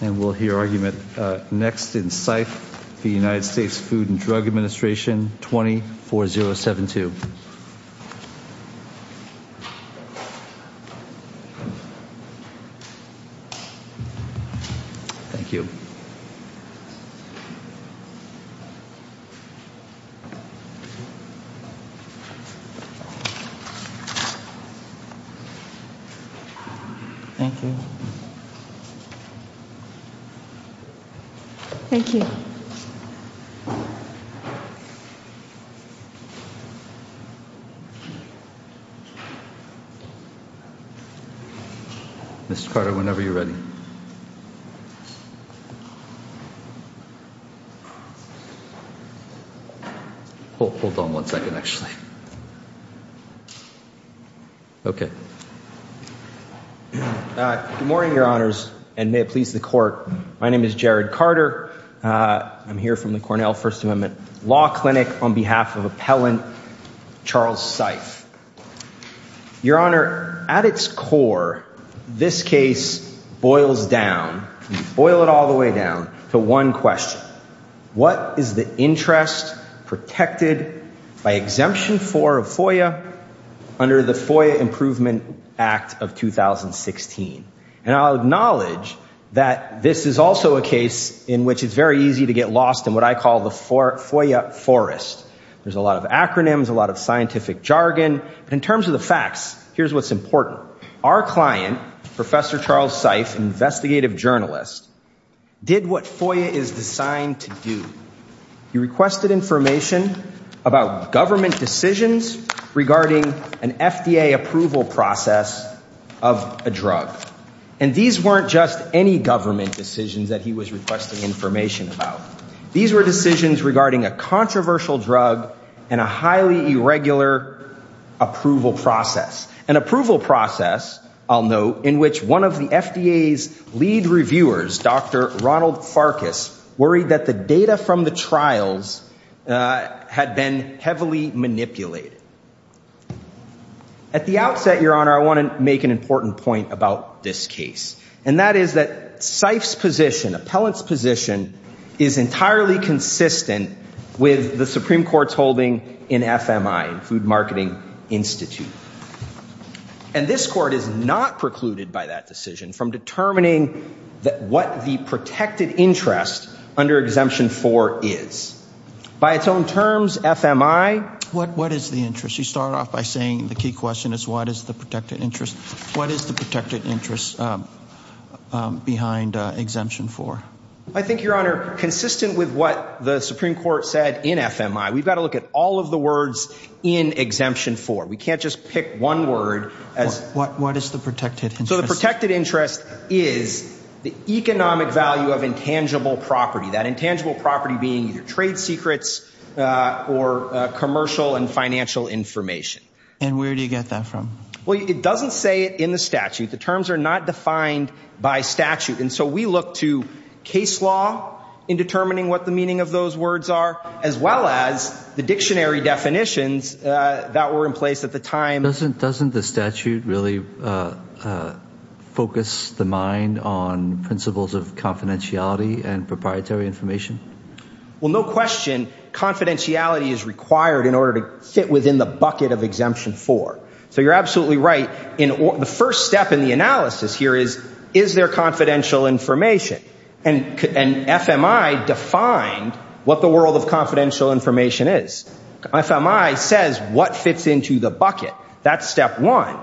And we'll hear argument next in Seife v. United States Food and Drug Administration 20-4072. Thank you. Thank you. Thank you. Mr. Carter, whenever you're ready. Hold on one second, actually. Okay. Good morning, your honors. And may it please the court. My name is Jared Carter. I'm here from the Cornell First Amendment Law Clinic on behalf of Appellant Charles Seife. Your honor, at its core, this case boils down, boil it all the way down to one question. What is the interest protected by exemption for FOIA under the FOIA Improvement Act of 2016? And I'll acknowledge that this is also a case in which it's very easy to get lost in what I call the FOIA forest. There's a lot of acronyms, a lot of scientific jargon. But in terms of the facts, here's what's important. Our client, Professor Charles Seife, investigative journalist, did what FOIA is designed to do. He requested information about government decisions regarding an FDA approval process of a drug. And these weren't just any government decisions that he was requesting information about. These were decisions regarding a controversial drug and a highly irregular approval process. An approval process, I'll note, in which one of the FDA's lead reviewers, Dr. Ronald Farkas, worried that the data from the trials had been heavily manipulated. At the outset, your honor, I want to make an important point about this case. And that is that Seife's position, Appellant's position, is entirely consistent with the Supreme Court's holding in FMI, Food Marketing Institute. And this court is not precluded by that decision from determining what the protected interest under Exemption 4 is. By its own terms, FMI... What is the interest? You start off by saying the key question is what is the protected interest? What is the protected interest behind Exemption 4? I think, your honor, consistent with what the Supreme Court said in FMI, we've got to look at all of the words in Exemption 4. We can't is the economic value of intangible property. That intangible property being either trade secrets or commercial and financial information. And where do you get that from? Well, it doesn't say it in the statute. The terms are not defined by statute. And so we look to case law in determining what the meaning of those words are, as well as the dictionary definitions that were in place at the time... Doesn't the statute really focus the mind on principles of confidentiality and proprietary information? Well, no question. Confidentiality is required in order to fit within the bucket of Exemption 4. So you're absolutely right. The first step in the analysis here is, is there confidential information? And FMI defined what the world of confidential information is. FMI says what fits into the bucket. That's step one.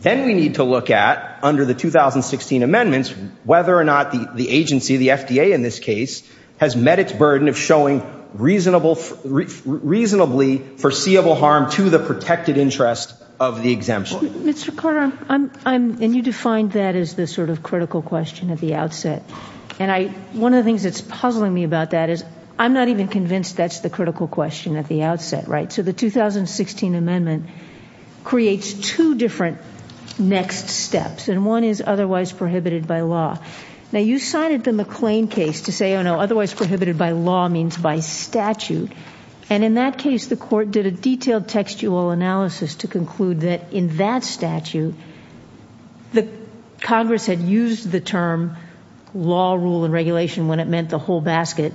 Then we need to look at, under the 2016 amendments, whether or not the agency, the FDA in this case, has met its burden of showing reasonably foreseeable harm to the protected interest of the exemption. Mr. Carter, and you defined that as the sort of critical question at the outset. And one of the things that's puzzling me about that is, I'm not even convinced that's the critical question at the outset, right? So the 2016 amendment creates two different next steps. And one is otherwise prohibited by law. Now you cited the McLean case to say, oh no, otherwise prohibited by law means by statute. And in that case, the court did a detailed textual analysis to conclude that in that statute, the Congress had used the term law, rule, and regulation when it meant the whole basket,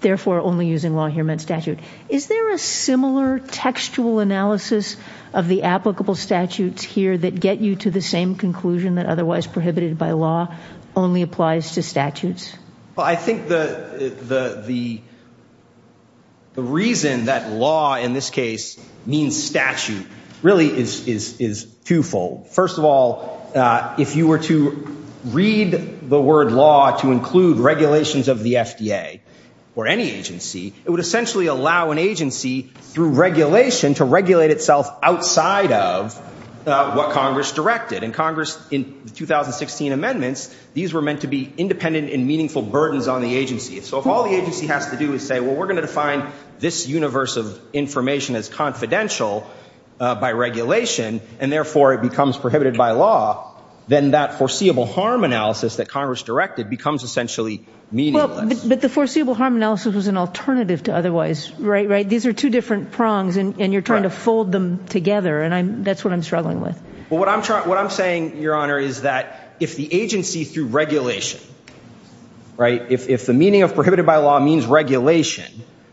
therefore only using law here meant statute. Is there a similar textual analysis of the applicable statutes here that get you to the same conclusion that otherwise prohibited by law only applies to statutes? Well, I think the reason that law in this case means statute really is twofold. First of all, if you were to read the word law to include regulations of the FDA or any agency, it would essentially allow an agency through regulation to regulate itself outside of what Congress directed. And Congress in the 2016 amendments, these were meant to be independent and meaningful burdens on the agency. So if all the agency has to do is say, well, we're going to define this universe of then that foreseeable harm analysis that Congress directed becomes essentially meaningless. But the foreseeable harm analysis was an alternative to otherwise, right? These are two different prongs and you're trying to fold them together. And that's what I'm struggling with. Well, what I'm saying, Your Honor, is that if the agency through regulation, if the meaning of prohibited by law means regulation,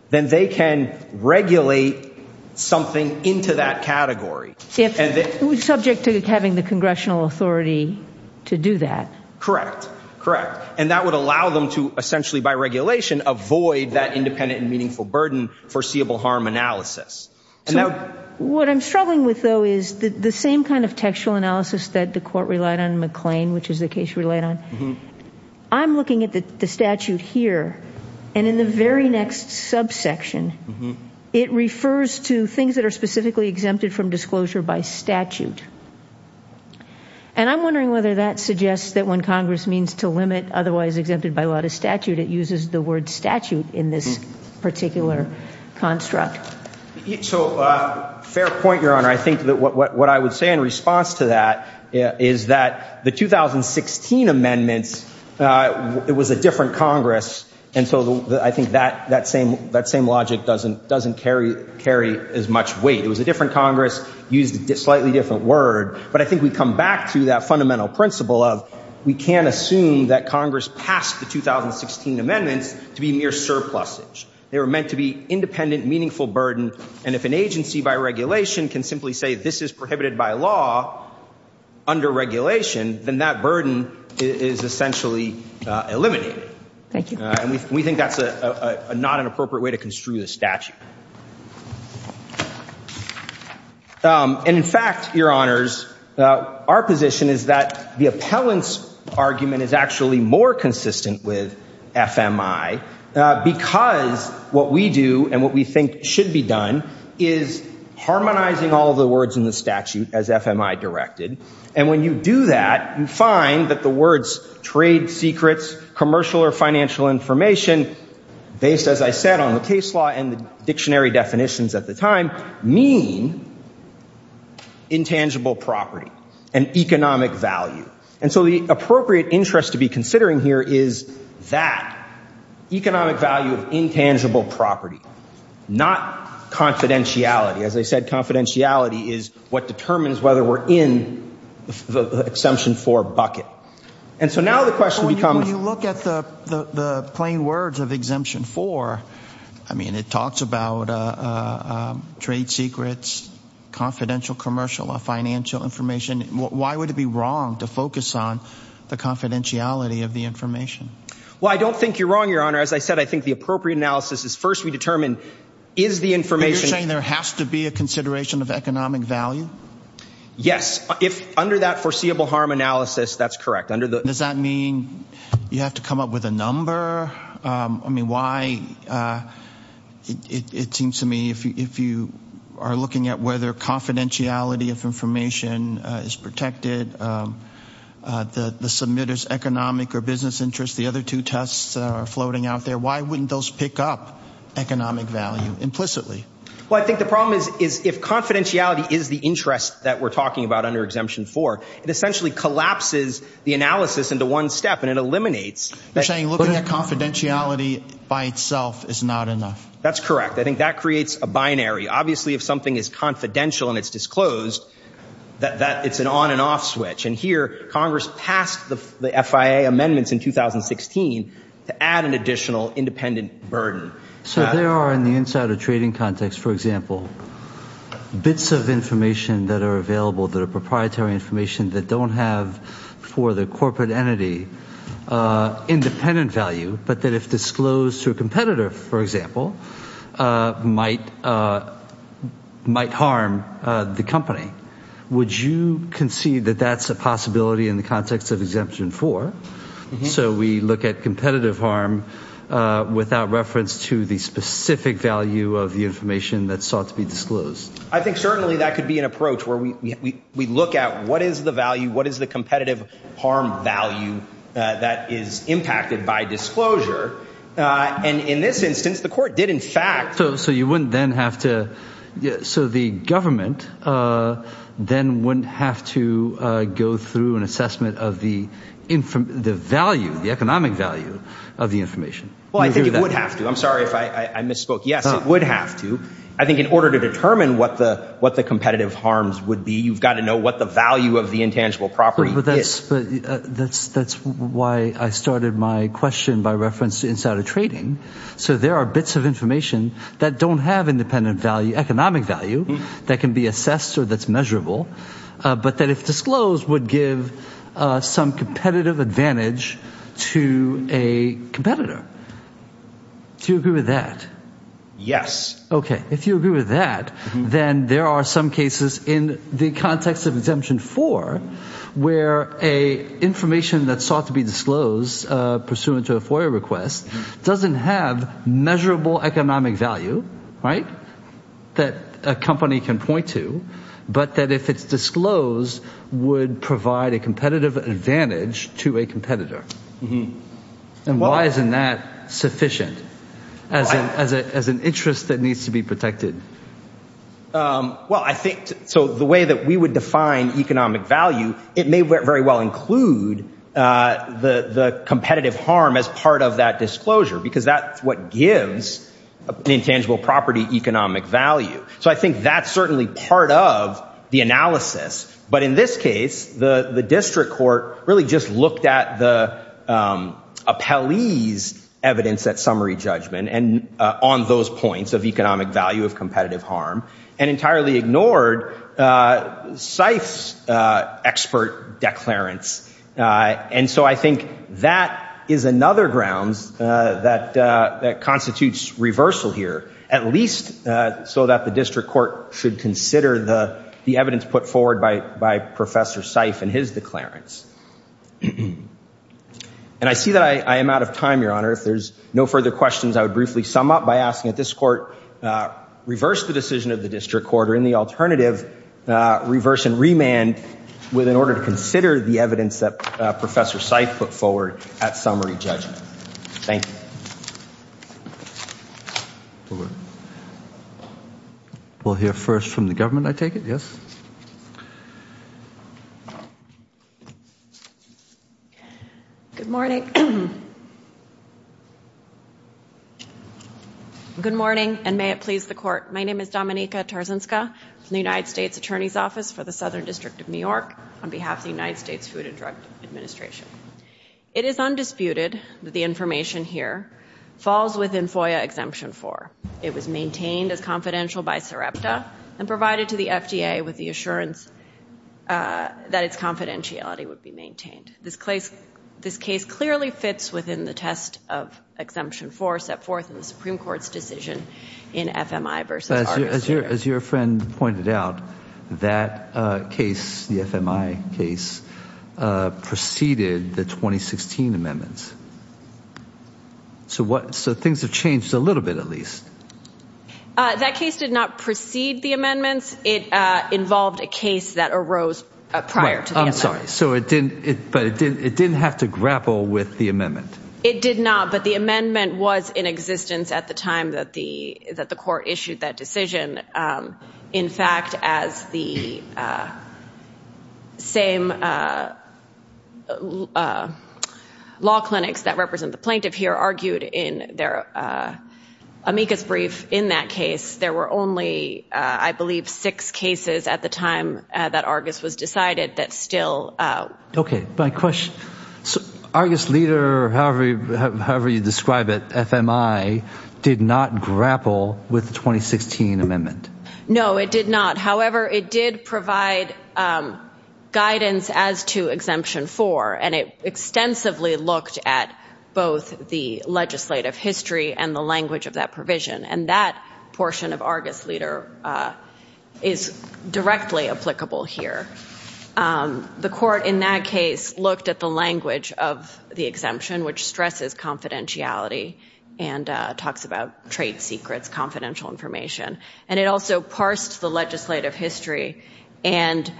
then they can regulate something into that category. Subject to having the congressional authority to do that. Correct. Correct. And that would allow them to essentially by regulation, avoid that independent and meaningful burden foreseeable harm analysis. What I'm struggling with, though, is the same kind of textual analysis that the court relied on McLean, which is the case we laid on. I'm looking at the statute here and in the very next subsection, it refers to things that are specifically exempted from disclosure by statute. And I'm wondering whether that suggests that when Congress means to limit otherwise exempted by a lot of statute, it uses the word statute in this particular construct. So fair point, Your Honor. I think that what I would say in response to that is that the 2016 amendments, it was a different Congress. And so I think that same logic doesn't carry as much weight. It was a different Congress, used a slightly different word. But I think we come back to that fundamental principle of we can't assume that Congress passed the 2016 amendments to be mere surplusage. They were meant to be independent, meaningful burden. And if an agency by regulation can simply say this is prohibited by law under regulation, then that burden is essentially eliminated. And we think that's not an appropriate way to construe the statute. And in fact, Your Honors, our position is that the appellant's argument is actually more consistent with FMI, because what we do and what we think should be done is harmonizing all of the words in the statute as FMI directed. And when you do that, you find that the words trade secrets, commercial or financial information, based, as I said, on the case law and the dictionary definitions at the time, mean intangible property and economic value. And so the appropriate interest to be considering here is that economic value of intangible property, not confidentiality. As I said, confidentiality is what determines whether we're in the Exemption 4 bucket. And so now the question becomes... When you look at the plain words of Exemption 4, I mean, it talks about trade secrets, confidential commercial or financial information. Why would it be wrong to focus on the confidentiality of the information? Well, I don't think you're wrong, Your Honor. As I said, I think the appropriate analysis is first we determine, is the information... You're saying there has to be a consideration of economic value? Yes. Under that foreseeable harm analysis, that's correct. Does that mean you have to come up with a number? I mean, why... It seems to me if you are looking at whether confidentiality of information is protected, the submitter's economic or business interest, the other two tests are floating out there, why wouldn't those pick up economic value implicitly? Well, I think the problem is if confidentiality is the interest that we're talking about under Exemption 4, it essentially collapses the analysis into one step and it eliminates... You're saying looking at confidentiality by itself is not enough? That's correct. I think that creates a binary. Obviously, if something is confidential and it's disclosed, that it's an on and off switch. And here, Congress passed the FIA amendments in 2016 to add an additional independent burden. So there are, in the insider trading context, for example, bits of information that are available that are proprietary information that don't have for the corporate entity independent value, but that if disclosed to a competitor, for example, might harm the company. Would you concede that that's a possibility in the context of Exemption 4? So we look at competitive harm without reference to the specific value of the information that sought to be disclosed? I think certainly that could be an approach where we look at what is the value, what is the competitive harm value that is impacted by disclosure? And in this instance, the court did in fact... So the government then wouldn't have to go through an assessment of the economic value of the information? Well, I think it would have to. I'm sorry if I misspoke. Yes, it would have to. I think in order to determine what the competitive harms would be, you've got to know what the value of the intangible property is. That's why I started my question by reference to insider trading. So there are bits of information that don't have independent value, economic value, that can be assessed or that's measurable, but that if disclosed would give some competitive advantage to a competitor. Do you agree with that? Yes. Okay. If you agree with that, then there are some cases in the context of Exemption 4 where a information that sought to be disclosed pursuant to a FOIA request doesn't have measurable economic value that a company can point to, but that if it's disclosed would provide a competitive advantage to a competitor. And why isn't that sufficient as an interest that needs to be protected? Well, I think so the way that we would define economic value, it may very well include the competitive harm as part of that disclosure, because that's what gives an intangible property economic value. So I think that's certainly part of the analysis. But in this case, the district court really just looked at the Kelly's evidence at summary judgment and on those points of economic value of competitive harm and entirely ignored Scythe's expert declarance. And so I think that is another grounds that constitutes reversal here, at least so that the district court should consider the evidence put forward by Professor Scythe and his declarance. And I see that I am out of time, Your Honor. If there's no further questions, I would briefly sum up by asking that this court reverse the decision of the district court or in the alternative, reverse and remand in order to consider the evidence that Professor Scythe put forward at summary judgment. Thank you. We'll hear first from the government, I take it? Yes. Good morning. Good morning and may it please the court. My name is Dominika Tarzinska from the United States Attorney's Office for the Southern District of New York on behalf of the United States Food and Drug Administration. It is undisputed that the information here falls within FOIA Exemption 4. It was maintained as confidential by SREPTA and provided to the FDA with the assurance that its confidentiality would be maintained. This case clearly fits within the test of Exemption 4 set forth in the 2016 amendments. So what? So things have changed a little bit, at least. That case did not precede the amendments. It involved a case that arose prior to. I'm sorry. So it didn't. But it didn't have to grapple with the amendment. It did not. But the amendment was in existence at the time that the court issued that decision. In fact, as the same law clinics that represent the plaintiff here argued in their amicus brief in that case, there were only, I believe, six cases at the time that ARGUS was decided that still. OK, my question. So ARGUS leader, however, however you describe it, did not grapple with the 2016 amendment. No, it did not. However, it did provide guidance as to Exemption 4, and it extensively looked at both the legislative history and the language of that provision. And that portion of ARGUS leader is directly applicable here. The court in that case looked at the language of the exemption, which stresses confidentiality. And talks about trade secrets, confidential information. And it also parsed the legislative history and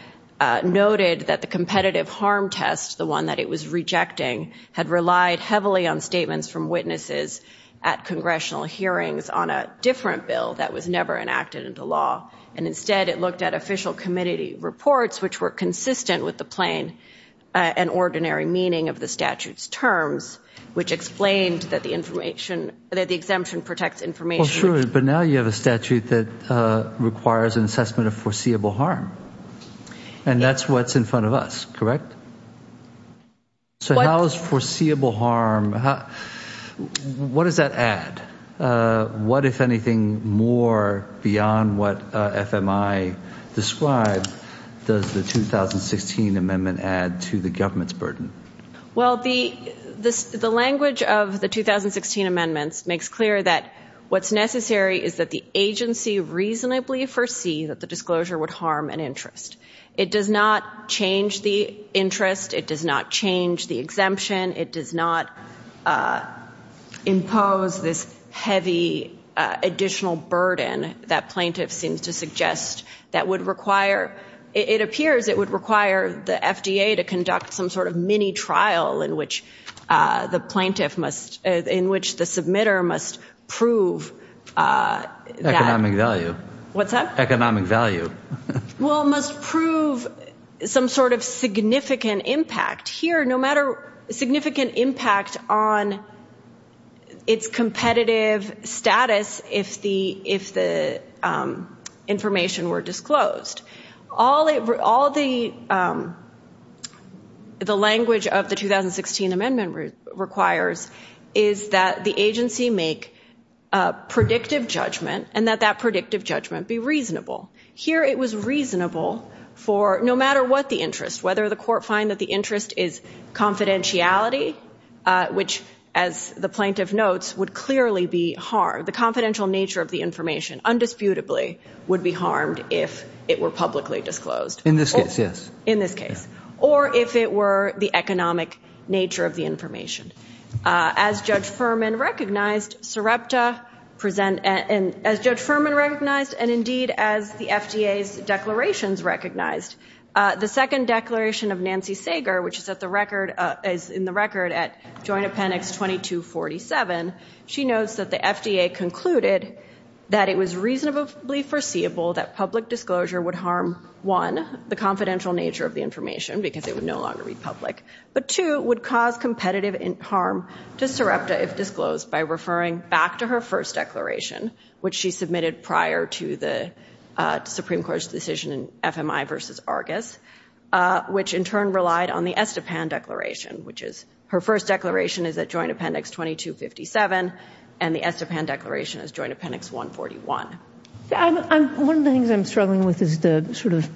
noted that the competitive harm test, the one that it was rejecting, had relied heavily on statements from witnesses at congressional hearings on a different bill that was never enacted into law. And instead, it looked at official committee reports, which were consistent with the plain and ordinary meaning of the statute's terms, which explained that the exemption protects information. Well, sure. But now you have a statute that requires an assessment of foreseeable harm. And that's what's in front of us, correct? So how is foreseeable harm, what does that add? What, if anything more beyond what FMI described, does the 2016 amendment add to the government's language? The language of the 2016 amendments makes clear that what's necessary is that the agency reasonably foresees that the disclosure would harm an interest. It does not change the interest. It does not change the exemption. It does not impose this heavy additional burden that plaintiff seems to suggest that would require. It appears it would require the FDA to conduct some sort of mini trial in which the plaintiff must, in which the submitter must prove that. Economic value. What's that? Economic value. Well, must prove some sort of significant impact here, no matter, significant impact on its competitive status if the information were disclosed. All the language of the 2016 amendment requires is that the agency make a predictive judgment and that that predictive judgment be reasonable. Here it was reasonable for no matter what the interest, whether the court find that the interest is confidentiality, which as the plaintiff notes, would clearly be harmed. The confidential nature of the information, undisputably, would be harmed if it were publicly disclosed. In this case, yes. In this case, or if it were the economic nature of the information. As Judge Furman recognized, SREPTA present, and as Judge Furman recognized, and indeed as the FDA's declarations recognized, the second declaration of Nancy Sager, which is at the record, is in the record at Joint Appendix 2247, she notes that the FDA concluded that it was reasonably foreseeable that public disclosure would harm, one, the confidential nature of the information because it would no longer be public, but two, would cause competitive harm to SREPTA if disclosed by referring back to her first declaration, which she submitted prior to the Supreme Court's decision in FMI versus Argus, which in turn relied on the Estepan declaration, which is her first declaration is at Joint Appendix 2257, and the Estepan declaration is Joint Appendix 141. I'm, one of the things I'm struggling with is the sort of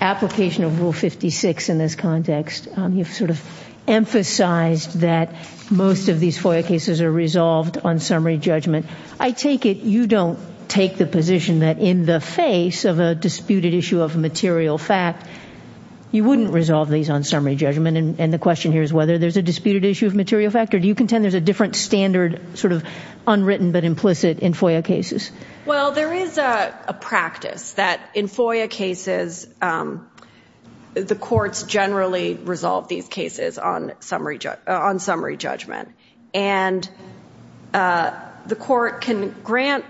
application of Rule 56 in this context. You've sort of emphasized that most of these FOIA cases are resolved on summary judgment. I take it you don't take the position that in the face of a disputed issue of material fact, you wouldn't resolve these on summary judgment, and the question here is whether there's a disputed issue of material fact, or do you contend there's a different standard, sort of unwritten but implicit in FOIA cases? Well, there is a practice that in FOIA cases, the courts generally resolve these cases on summary judgment, and the court can grant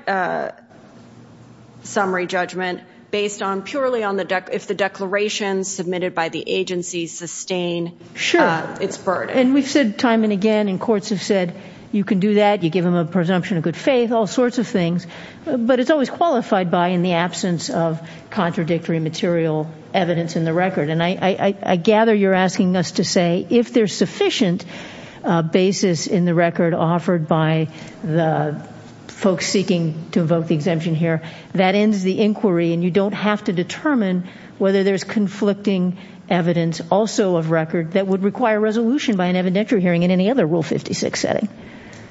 summary judgment based on purely on the, if the declarations submitted by the agency sustain its burden. And we've said time and again, and courts have said you can do that, you give them a but it's always qualified by in the absence of contradictory material evidence in the record. And I gather you're asking us to say if there's sufficient basis in the record offered by the folks seeking to invoke the exemption here, that ends the inquiry and you don't have to determine whether there's conflicting evidence also of record that would require resolution by an evidentiary hearing in any other Rule 56 setting.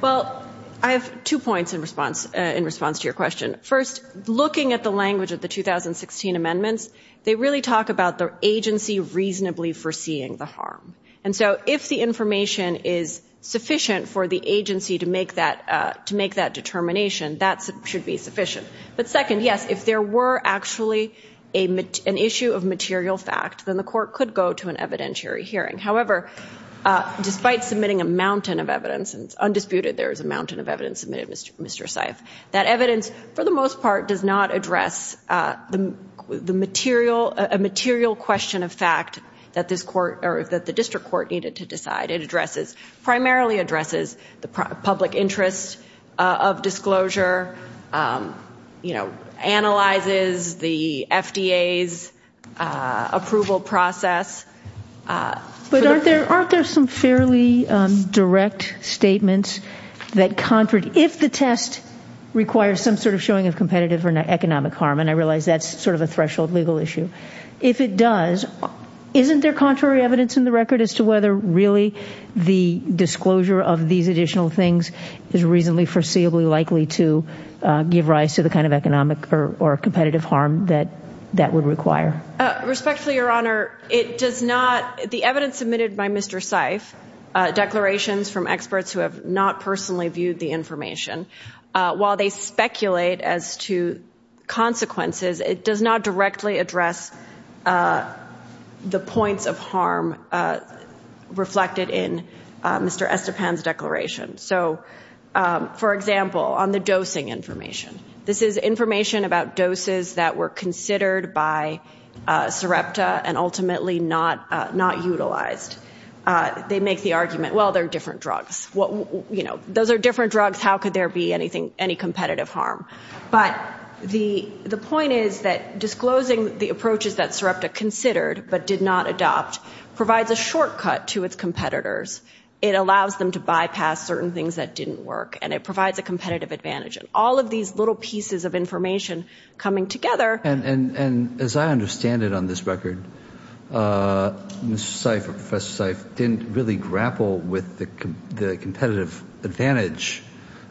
Well, I have two points in response to your question. First, looking at the language of the 2016 amendments, they really talk about the agency reasonably foreseeing the harm. And so if the information is sufficient for the agency to make that determination, that should be sufficient. But second, yes, if there were actually an issue of material fact, then the court could go to an evidentiary hearing. However, despite submitting a mountain of evidence, and it's undisputed there is a mountain of evidence submitted, Mr. Seif, that evidence, for the most part, does not address a material question of fact that the district court needed to decide. It primarily addresses the public interest of disclosure, analyzes the FDA's approval process, But aren't there some fairly direct statements that, if the test requires some sort of showing of competitive or economic harm, and I realize that's sort of a threshold legal issue. If it does, isn't there contrary evidence in the record as to whether really the disclosure of these additional things is reasonably foreseeably likely to give rise to the kind of economic or competitive harm that that would require? Respectfully, Your Honor, the evidence submitted by Mr. Seif, declarations from experts who have not personally viewed the information, while they speculate as to consequences, it does not directly address the points of harm reflected in Mr. Estepan's declaration. So, for example, on the dosing information, this is information about doses that were considered by Sarepta and ultimately not utilized. They make the argument, well, they're different drugs. Those are different drugs. How could there be any competitive harm? But the point is that disclosing the approaches that Sarepta considered but did not adopt provides a shortcut to its competitors. It allows them to bypass certain things that didn't work, and it provides a competitive advantage. All of these little pieces of information coming together. And as I understand it on this record, Mr. Seif or Professor Seif didn't really grapple with the competitive advantage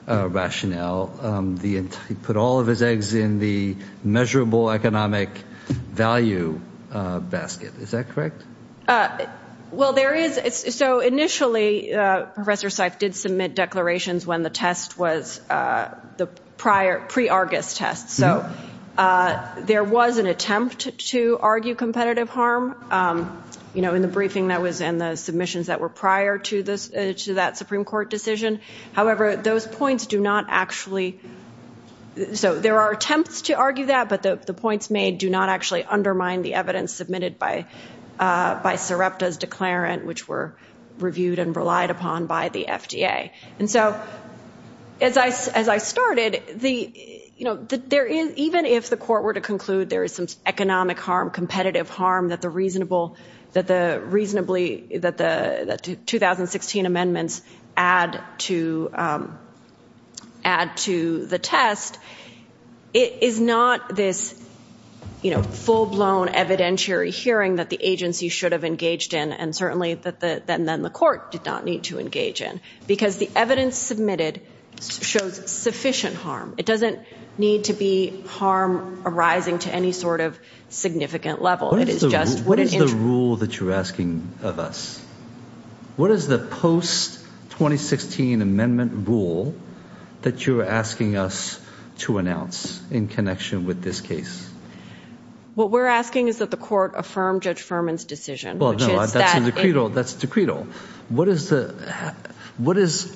rationale. He put all of his eggs in the measurable economic value basket. Is that correct? Well, there is. So initially, Professor Seif did submit declarations when the test was pre-Argus test. So there was an attempt to argue competitive harm. In the briefing that was in the submissions that were prior to that Supreme Court decision. However, those points do not actually... So there are attempts to argue that, but the points made do not actually undermine the evidence submitted by Sarepta's declarant, which were reviewed and relied upon by the FDA. And so as I started, even if the court were to conclude there is some economic harm, competitive harm that the 2016 amendments add to the test, it is not this full-blown evidentiary hearing that the agency should have engaged in and certainly that then the court did not need to engage in because the evidence submitted shows sufficient harm. It doesn't need to be harm arising to any sort of significant level. It is just... What is the rule that you're asking of us? What is the post-2016 amendment rule that you're asking us to announce in connection with this case? What we're asking is that the court affirm Judge Furman's decision. No, that's a decretal. That's a decretal.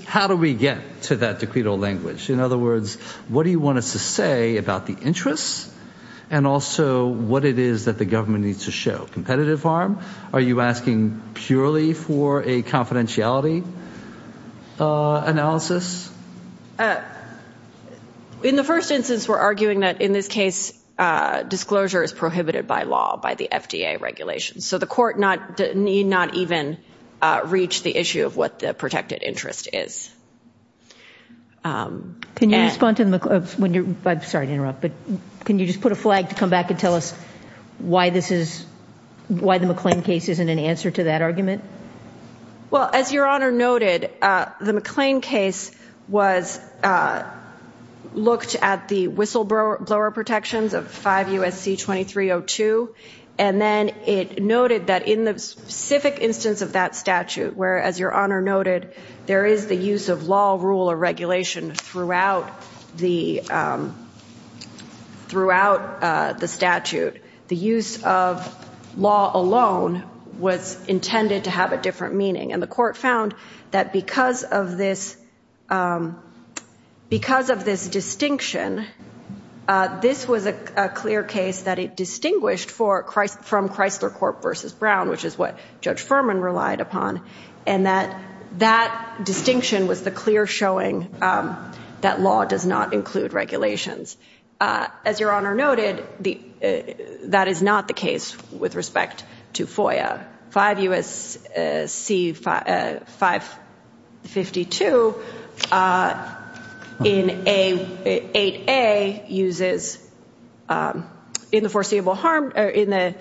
How do we get to that decretal language? In other words, what do you want us to say about the interests and also what it is that the government needs to show? Competitive harm? Are you asking purely for a confidentiality analysis? In the first instance, we're arguing that in this case, disclosure is prohibited by law, by the FDA regulations. So the court need not even reach the issue of what the protected interest is. Can you respond to the... I'm sorry to interrupt, but can you just put a flag to come back and tell us why the McLean case isn't an answer to that argument? Well, as Your Honor noted, the McLean case was looked at the whistleblower protections of 5 USC 2302. And then it noted that in the specific instance of that statute, where as Your Honor noted, there is the use of law, rule, or regulation throughout the statute. The use of law alone was intended to have a different meaning. And the court found that because of this distinction, this was a clear case that it distinguished from Chrysler Corp versus Brown, which is what Judge Furman relied upon. And that distinction was the clear showing that law does not include regulations. As Your Honor noted, that is not the case with respect to FOIA. 5 USC 552 in 8A uses... In the foreseeable harm... In the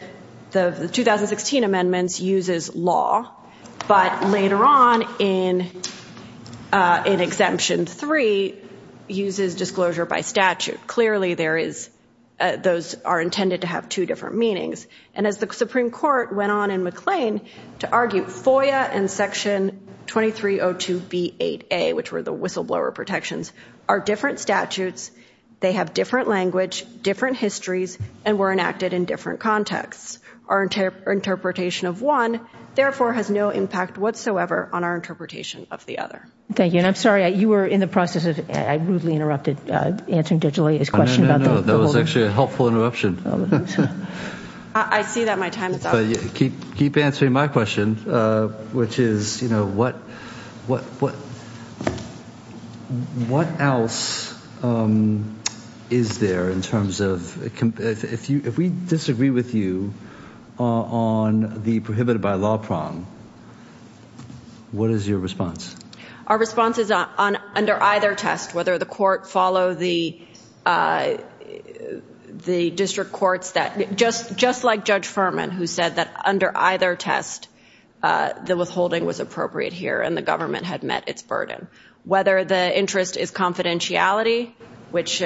2016 amendments uses law, but later on in exemption three uses disclosure by statute. Clearly those are McLean to argue FOIA and Section 2302B8A, which were the whistleblower protections, are different statutes. They have different language, different histories, and were enacted in different contexts. Our interpretation of one, therefore, has no impact whatsoever on our interpretation of the other. Thank you. And I'm sorry, you were in the process of... I rudely interrupted answering Judge Leigh's question about the... No, no, no. That was actually a keep answering my question, which is what else is there in terms of... If we disagree with you on the prohibited by law prong, what is your response? Our response is under either test, whether the court follow the district courts that... Just like Judge Furman, who said that under either test, the withholding was appropriate here and the government had met its burden. Whether the interest is confidentiality, which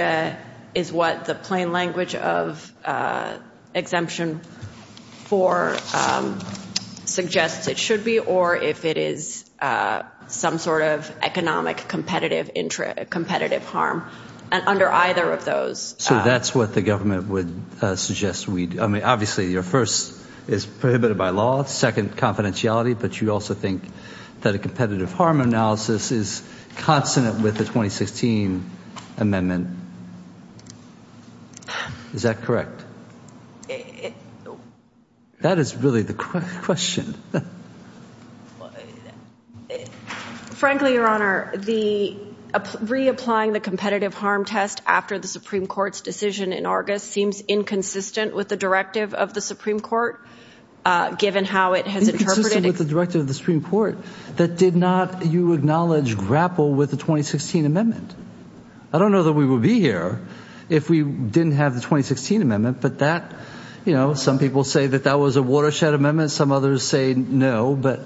is what the plain language of competitive harm, under either of those... So that's what the government would suggest we do. I mean, obviously your first is prohibited by law, second confidentiality, but you also think that a competitive harm analysis is consonant with the 2016 amendment. Is that correct? It... That is really the question. Frankly, your honor, the reapplying the competitive harm test after the Supreme Court's decision in August seems inconsistent with the directive of the Supreme Court, given how it has interpreted... Inconsistent with the directive of the Supreme Court that did not, you acknowledge, grapple with the 2016 amendment. I don't know that we would be here if we didn't have the 2016 amendment, but that... Some people say that that was a watershed amendment. Some others say no, but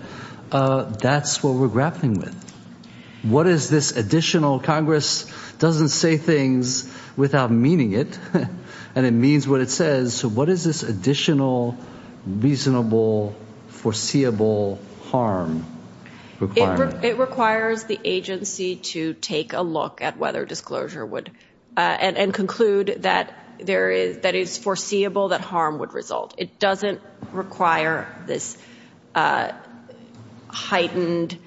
that's what we're grappling with. What is this additional... Congress doesn't say things without meaning it, and it means what it says. So what is this additional, reasonable, foreseeable harm requirement? It requires the agency to take a look at whether disclosure would... And conclude that there is... That it's foreseeable that harm would result. It doesn't require this heightened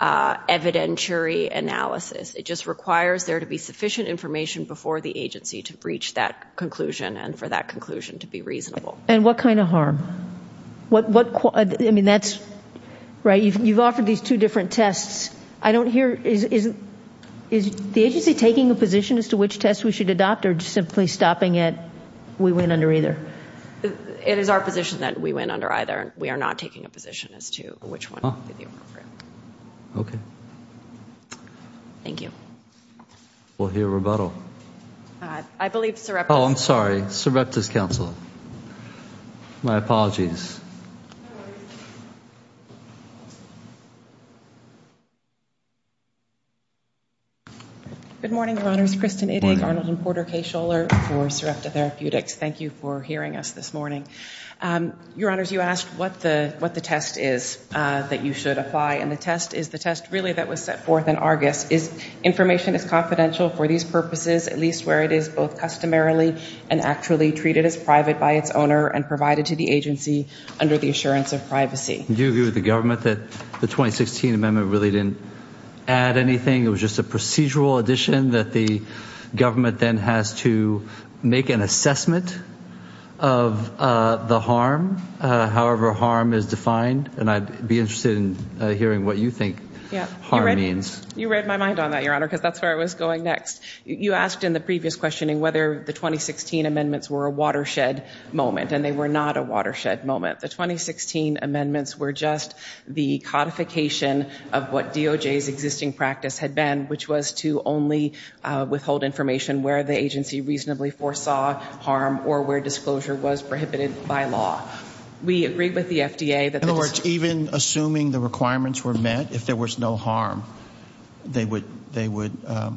evidentiary analysis. It just requires there to be sufficient information before the agency to reach that conclusion, and for that conclusion to be reasonable. And what kind of harm? What... I mean, that's... You've offered these two different tests. I don't hear... Is the agency taking a position as to which test we should adopt, or just simply stopping at, we went under either? It is our position that we went under either. We are not taking a position as to which one. Okay. Thank you. We'll hear rebuttal. I believe Sir... Oh, I'm sorry. Sir Reptis Council. My apologies. Good morning, Your Honors. Kristin Ittig, Arnold and Porter K. Scholler for Serapta Therapeutics. Thank you for hearing us this morning. Your Honors, you asked what the test is that you should apply, and the test is the test, really, that was set forth in Argus. Is information as confidential for these purposes, at least where it is both customarily and actually treated as private by its owner and provided to the agency under the assurance of privacy? The 2016 amendment really didn't add anything. It was just a procedural addition that the government then has to make an assessment of the harm, however harm is defined, and I'd be interested in hearing what you think harm means. You read my mind on that, Your Honor, because that's where I was going next. You asked in the previous questioning whether the 2016 amendments were a watershed moment, and they were not a watershed moment. The 2016 amendments were just the codification of what DOJ's existing practice had been, which was to only withhold information where the agency reasonably foresaw harm or where disclosure was prohibited by law. We agreed with the FDA that- In other words, even assuming the requirements were met, if there was no harm, they would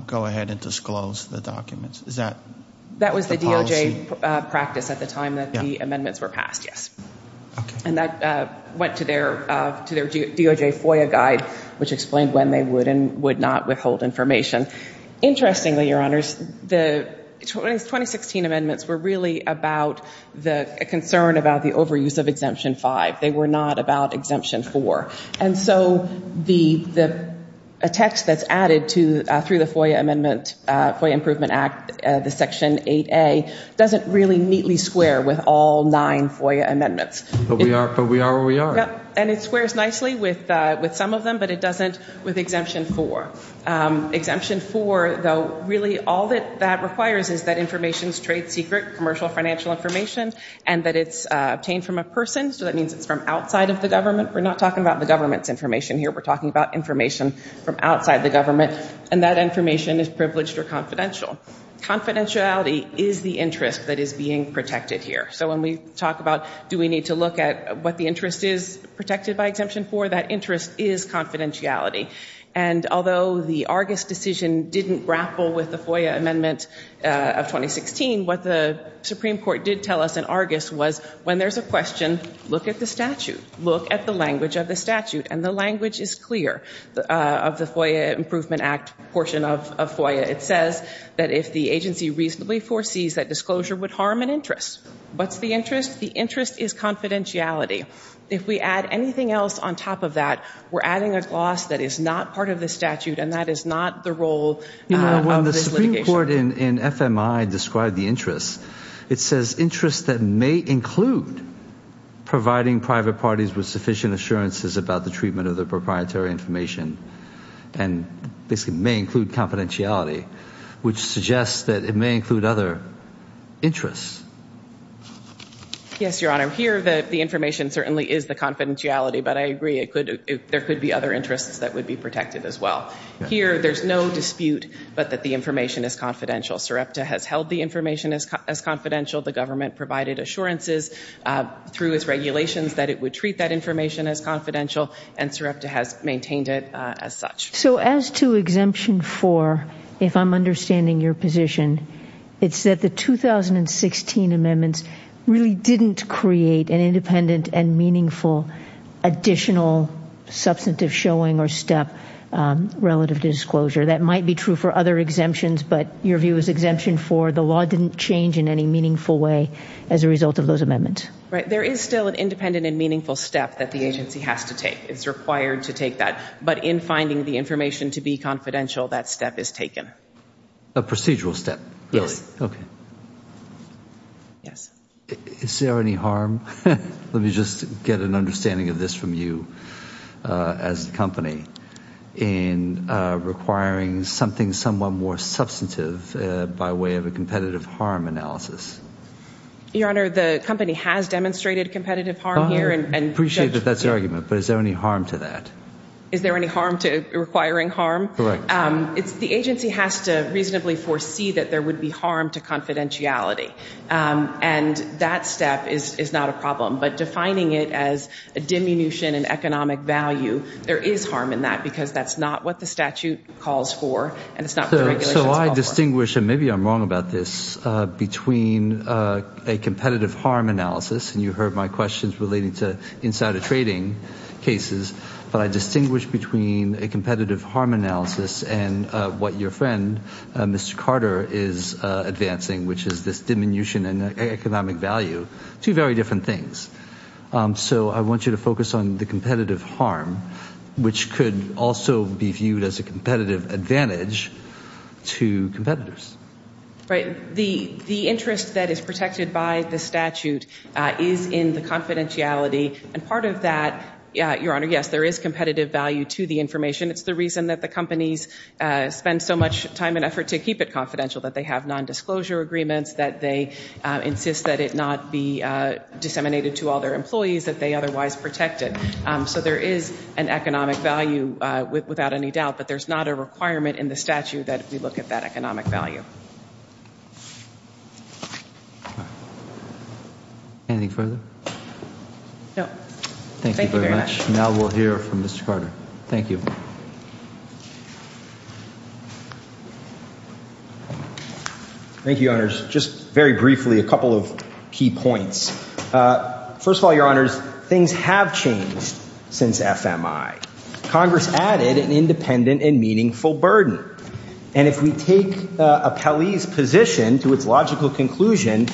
go ahead and disclose the documents. Is that the policy? Practice at the time that the amendments were passed, yes. And that went to their DOJ FOIA guide, which explained when they would and would not withhold information. Interestingly, Your Honors, the 2016 amendments were really about the concern about the overuse of Exemption 5. They were not about Exemption 4. And so a text that's added through the FOIA Amendment, FOIA Improvement Act, the Section 8A, doesn't really neatly square with all nine FOIA amendments. But we are where we are. And it squares nicely with some of them, but it doesn't with Exemption 4. Exemption 4, though, really all that that requires is that information's trade secret, commercial financial information, and that it's obtained from a person. So that means it's from outside of the government. We're not talking about the government's information here. We're talking about from outside the government. And that information is privileged or confidential. Confidentiality is the interest that is being protected here. So when we talk about do we need to look at what the interest is protected by Exemption 4, that interest is confidentiality. And although the Argus decision didn't grapple with the FOIA Amendment of 2016, what the Supreme Court did tell us in Argus was when there's a question, look at the statute. Look at the of the FOIA Improvement Act portion of FOIA. It says that if the agency reasonably foresees that disclosure would harm an interest. What's the interest? The interest is confidentiality. If we add anything else on top of that, we're adding a gloss that is not part of the statute, and that is not the role of this litigation. Well, the Supreme Court in FMI described the interest. It says interests that may include providing private parties with sufficient assurances about the treatment of their and basically may include confidentiality, which suggests that it may include other interests. Yes, Your Honor. Here the information certainly is the confidentiality, but I agree there could be other interests that would be protected as well. Here there's no dispute but that the information is confidential. SREPTA has held the information as confidential. The government provided assurances through its regulations that it would treat that information as confidential, and SREPTA has maintained it as such. So as to Exemption 4, if I'm understanding your position, it's that the 2016 amendments really didn't create an independent and meaningful additional substantive showing or step relative to disclosure. That might be true for other exemptions, but your view is Exemption 4, the law didn't change in any meaningful way as a result of those amendments. Right. There is still an independent and meaningful step that the agency has to take. It's required to take that, but in finding the information to be confidential, that step is taken. A procedural step? Yes. Okay. Yes. Is there any harm? Let me just get an understanding of this from you as a company in requiring something somewhat more substantive by way of a competitive harm analysis. Your Honor, the company has demonstrated competitive harm here. I appreciate that that's your argument, but is there any harm to that? Is there any harm to requiring harm? Correct. The agency has to reasonably foresee that there would be harm to confidentiality, and that step is not a problem, but defining it as a diminution in economic value, there is harm in that because that's not what the statute calls for, and it's not what the regulations call for. I distinguish, and maybe I'm wrong about this, between a competitive harm analysis, and you heard my questions relating to insider trading cases, but I distinguish between a competitive harm analysis and what your friend, Mr. Carter, is advancing, which is this diminution in economic value. Two very different things. I want you to focus on the competitive harm, which could also be viewed as a competitive advantage to competitors. Right. The interest that is protected by the statute is in the confidentiality, and part of that, Your Honor, yes, there is competitive value to the information. It's the reason that the companies spend so much time and effort to keep it confidential, that they have nondisclosure agreements, that they insist that it not be disseminated to all employees that they otherwise protect it. So there is an economic value without any doubt, but there's not a requirement in the statute that we look at that economic value. Anything further? No. Thank you very much. Now we'll hear from Mr. Carter. Thank you. Thank you, Your Honors. Just very briefly, a couple of key points. First of all, Your Honors, things have changed since FMI. Congress added an independent and meaningful burden, and if we take a Pelley's position to its logical conclusion,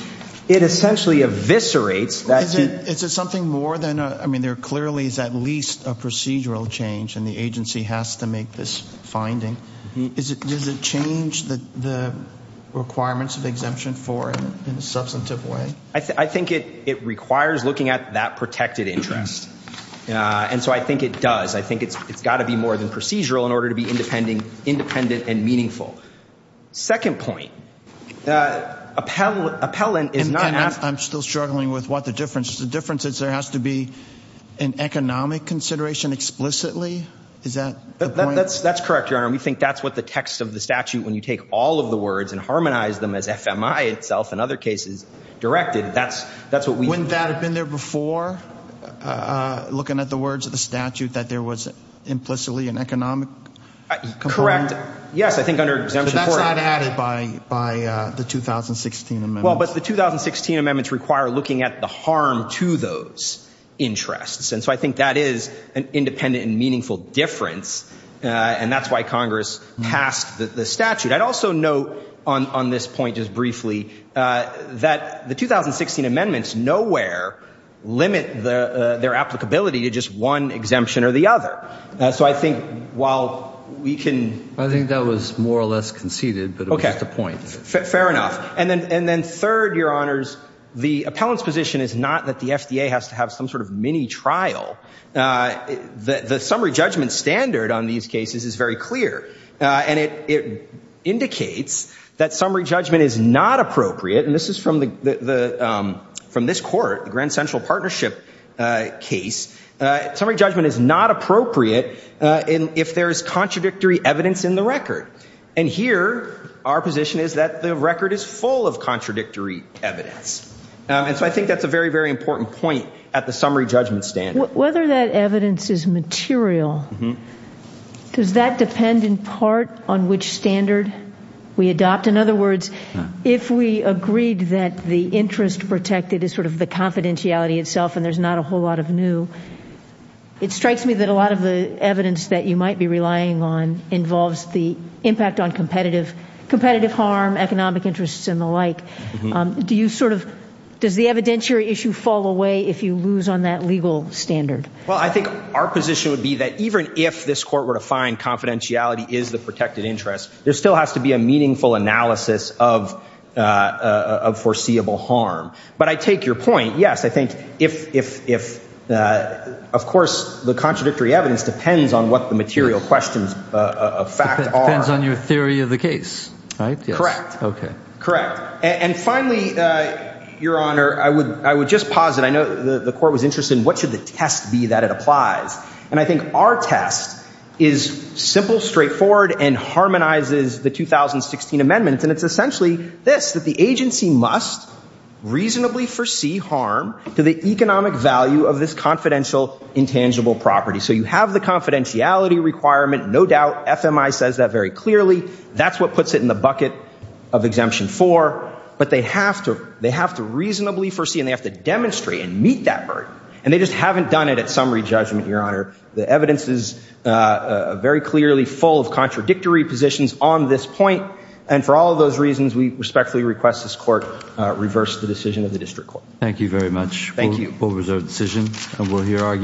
it essentially eviscerates that- Is it something more than a, I mean, there clearly is at least a procedural change in the agency has to make this finding. Does it change the requirements of exemption for it in a substantive way? I think it requires looking at that protected interest, and so I think it does. I think it's got to be more than procedural in order to be independent and meaningful. Second point, appellant is not- I'm still struggling with what the difference is. The difference is there has to an economic consideration explicitly? Is that the point? That's correct, Your Honor. We think that's what the text of the statute, when you take all of the words and harmonize them as FMI itself and other cases directed, that's what we- Wouldn't that have been there before, looking at the words of the statute, that there was implicitly an economic component? Correct. Yes, I think under exemption for it- So that's not added by the 2016 amendments? But the 2016 amendments require looking at the harm to those interests, and so I think that is an independent and meaningful difference, and that's why Congress passed the statute. I'd also note on this point just briefly that the 2016 amendments nowhere limit their applicability to just one exemption or the other. So I think while we can- I think that was more or less conceded, but it was just a point. Fair enough. And then third, Your Honors, the appellant's position is not that the FDA has to have some sort of mini-trial. The summary judgment standard on these cases is very clear, and it indicates that summary judgment is not appropriate, and this is from this court, the Grand Central Partnership case. Summary judgment is not appropriate if there is contradictory evidence in the record. And here, our position is that the record is full of contradictory evidence. And so I think that's a very, very important point at the summary judgment standard. Whether that evidence is material, does that depend in part on which standard we adopt? In other words, if we agreed that the interest protected is sort of the confidentiality itself and there's not a whole lot of new, it strikes me that a lot of the evidence that you might be relying on involves the impact on competitive harm, economic interests, and the like. Does the evidentiary issue fall away if you lose on that legal standard? Well, I think our position would be that even if this court were to find confidentiality is the protected interest, there still has to be a meaningful analysis of foreseeable harm. But I take your point. Yes, I think if- of course, the contradictory evidence depends on what the material questions of fact are. Depends on your theory of the case, right? Correct. Okay. Correct. And finally, Your Honor, I would just posit, I know the court was interested in what should the test be that it applies? And I think our test is simple, straightforward, and harmonizes the 2016 amendments. And it's essentially this, that the agency must reasonably foresee harm to economic value of this confidential intangible property. So you have the confidentiality requirement, no doubt. FMI says that very clearly. That's what puts it in the bucket of Exemption 4. But they have to, they have to reasonably foresee and they have to demonstrate and meet that burden. And they just haven't done it at summary judgment, Your Honor. The evidence is very clearly full of contradictory positions on this point. And for all of those reasons, we respectfully request this court reverse the decision of the district court. Thank you very much. Thank you. We'll reverse our decision and we'll hear argument.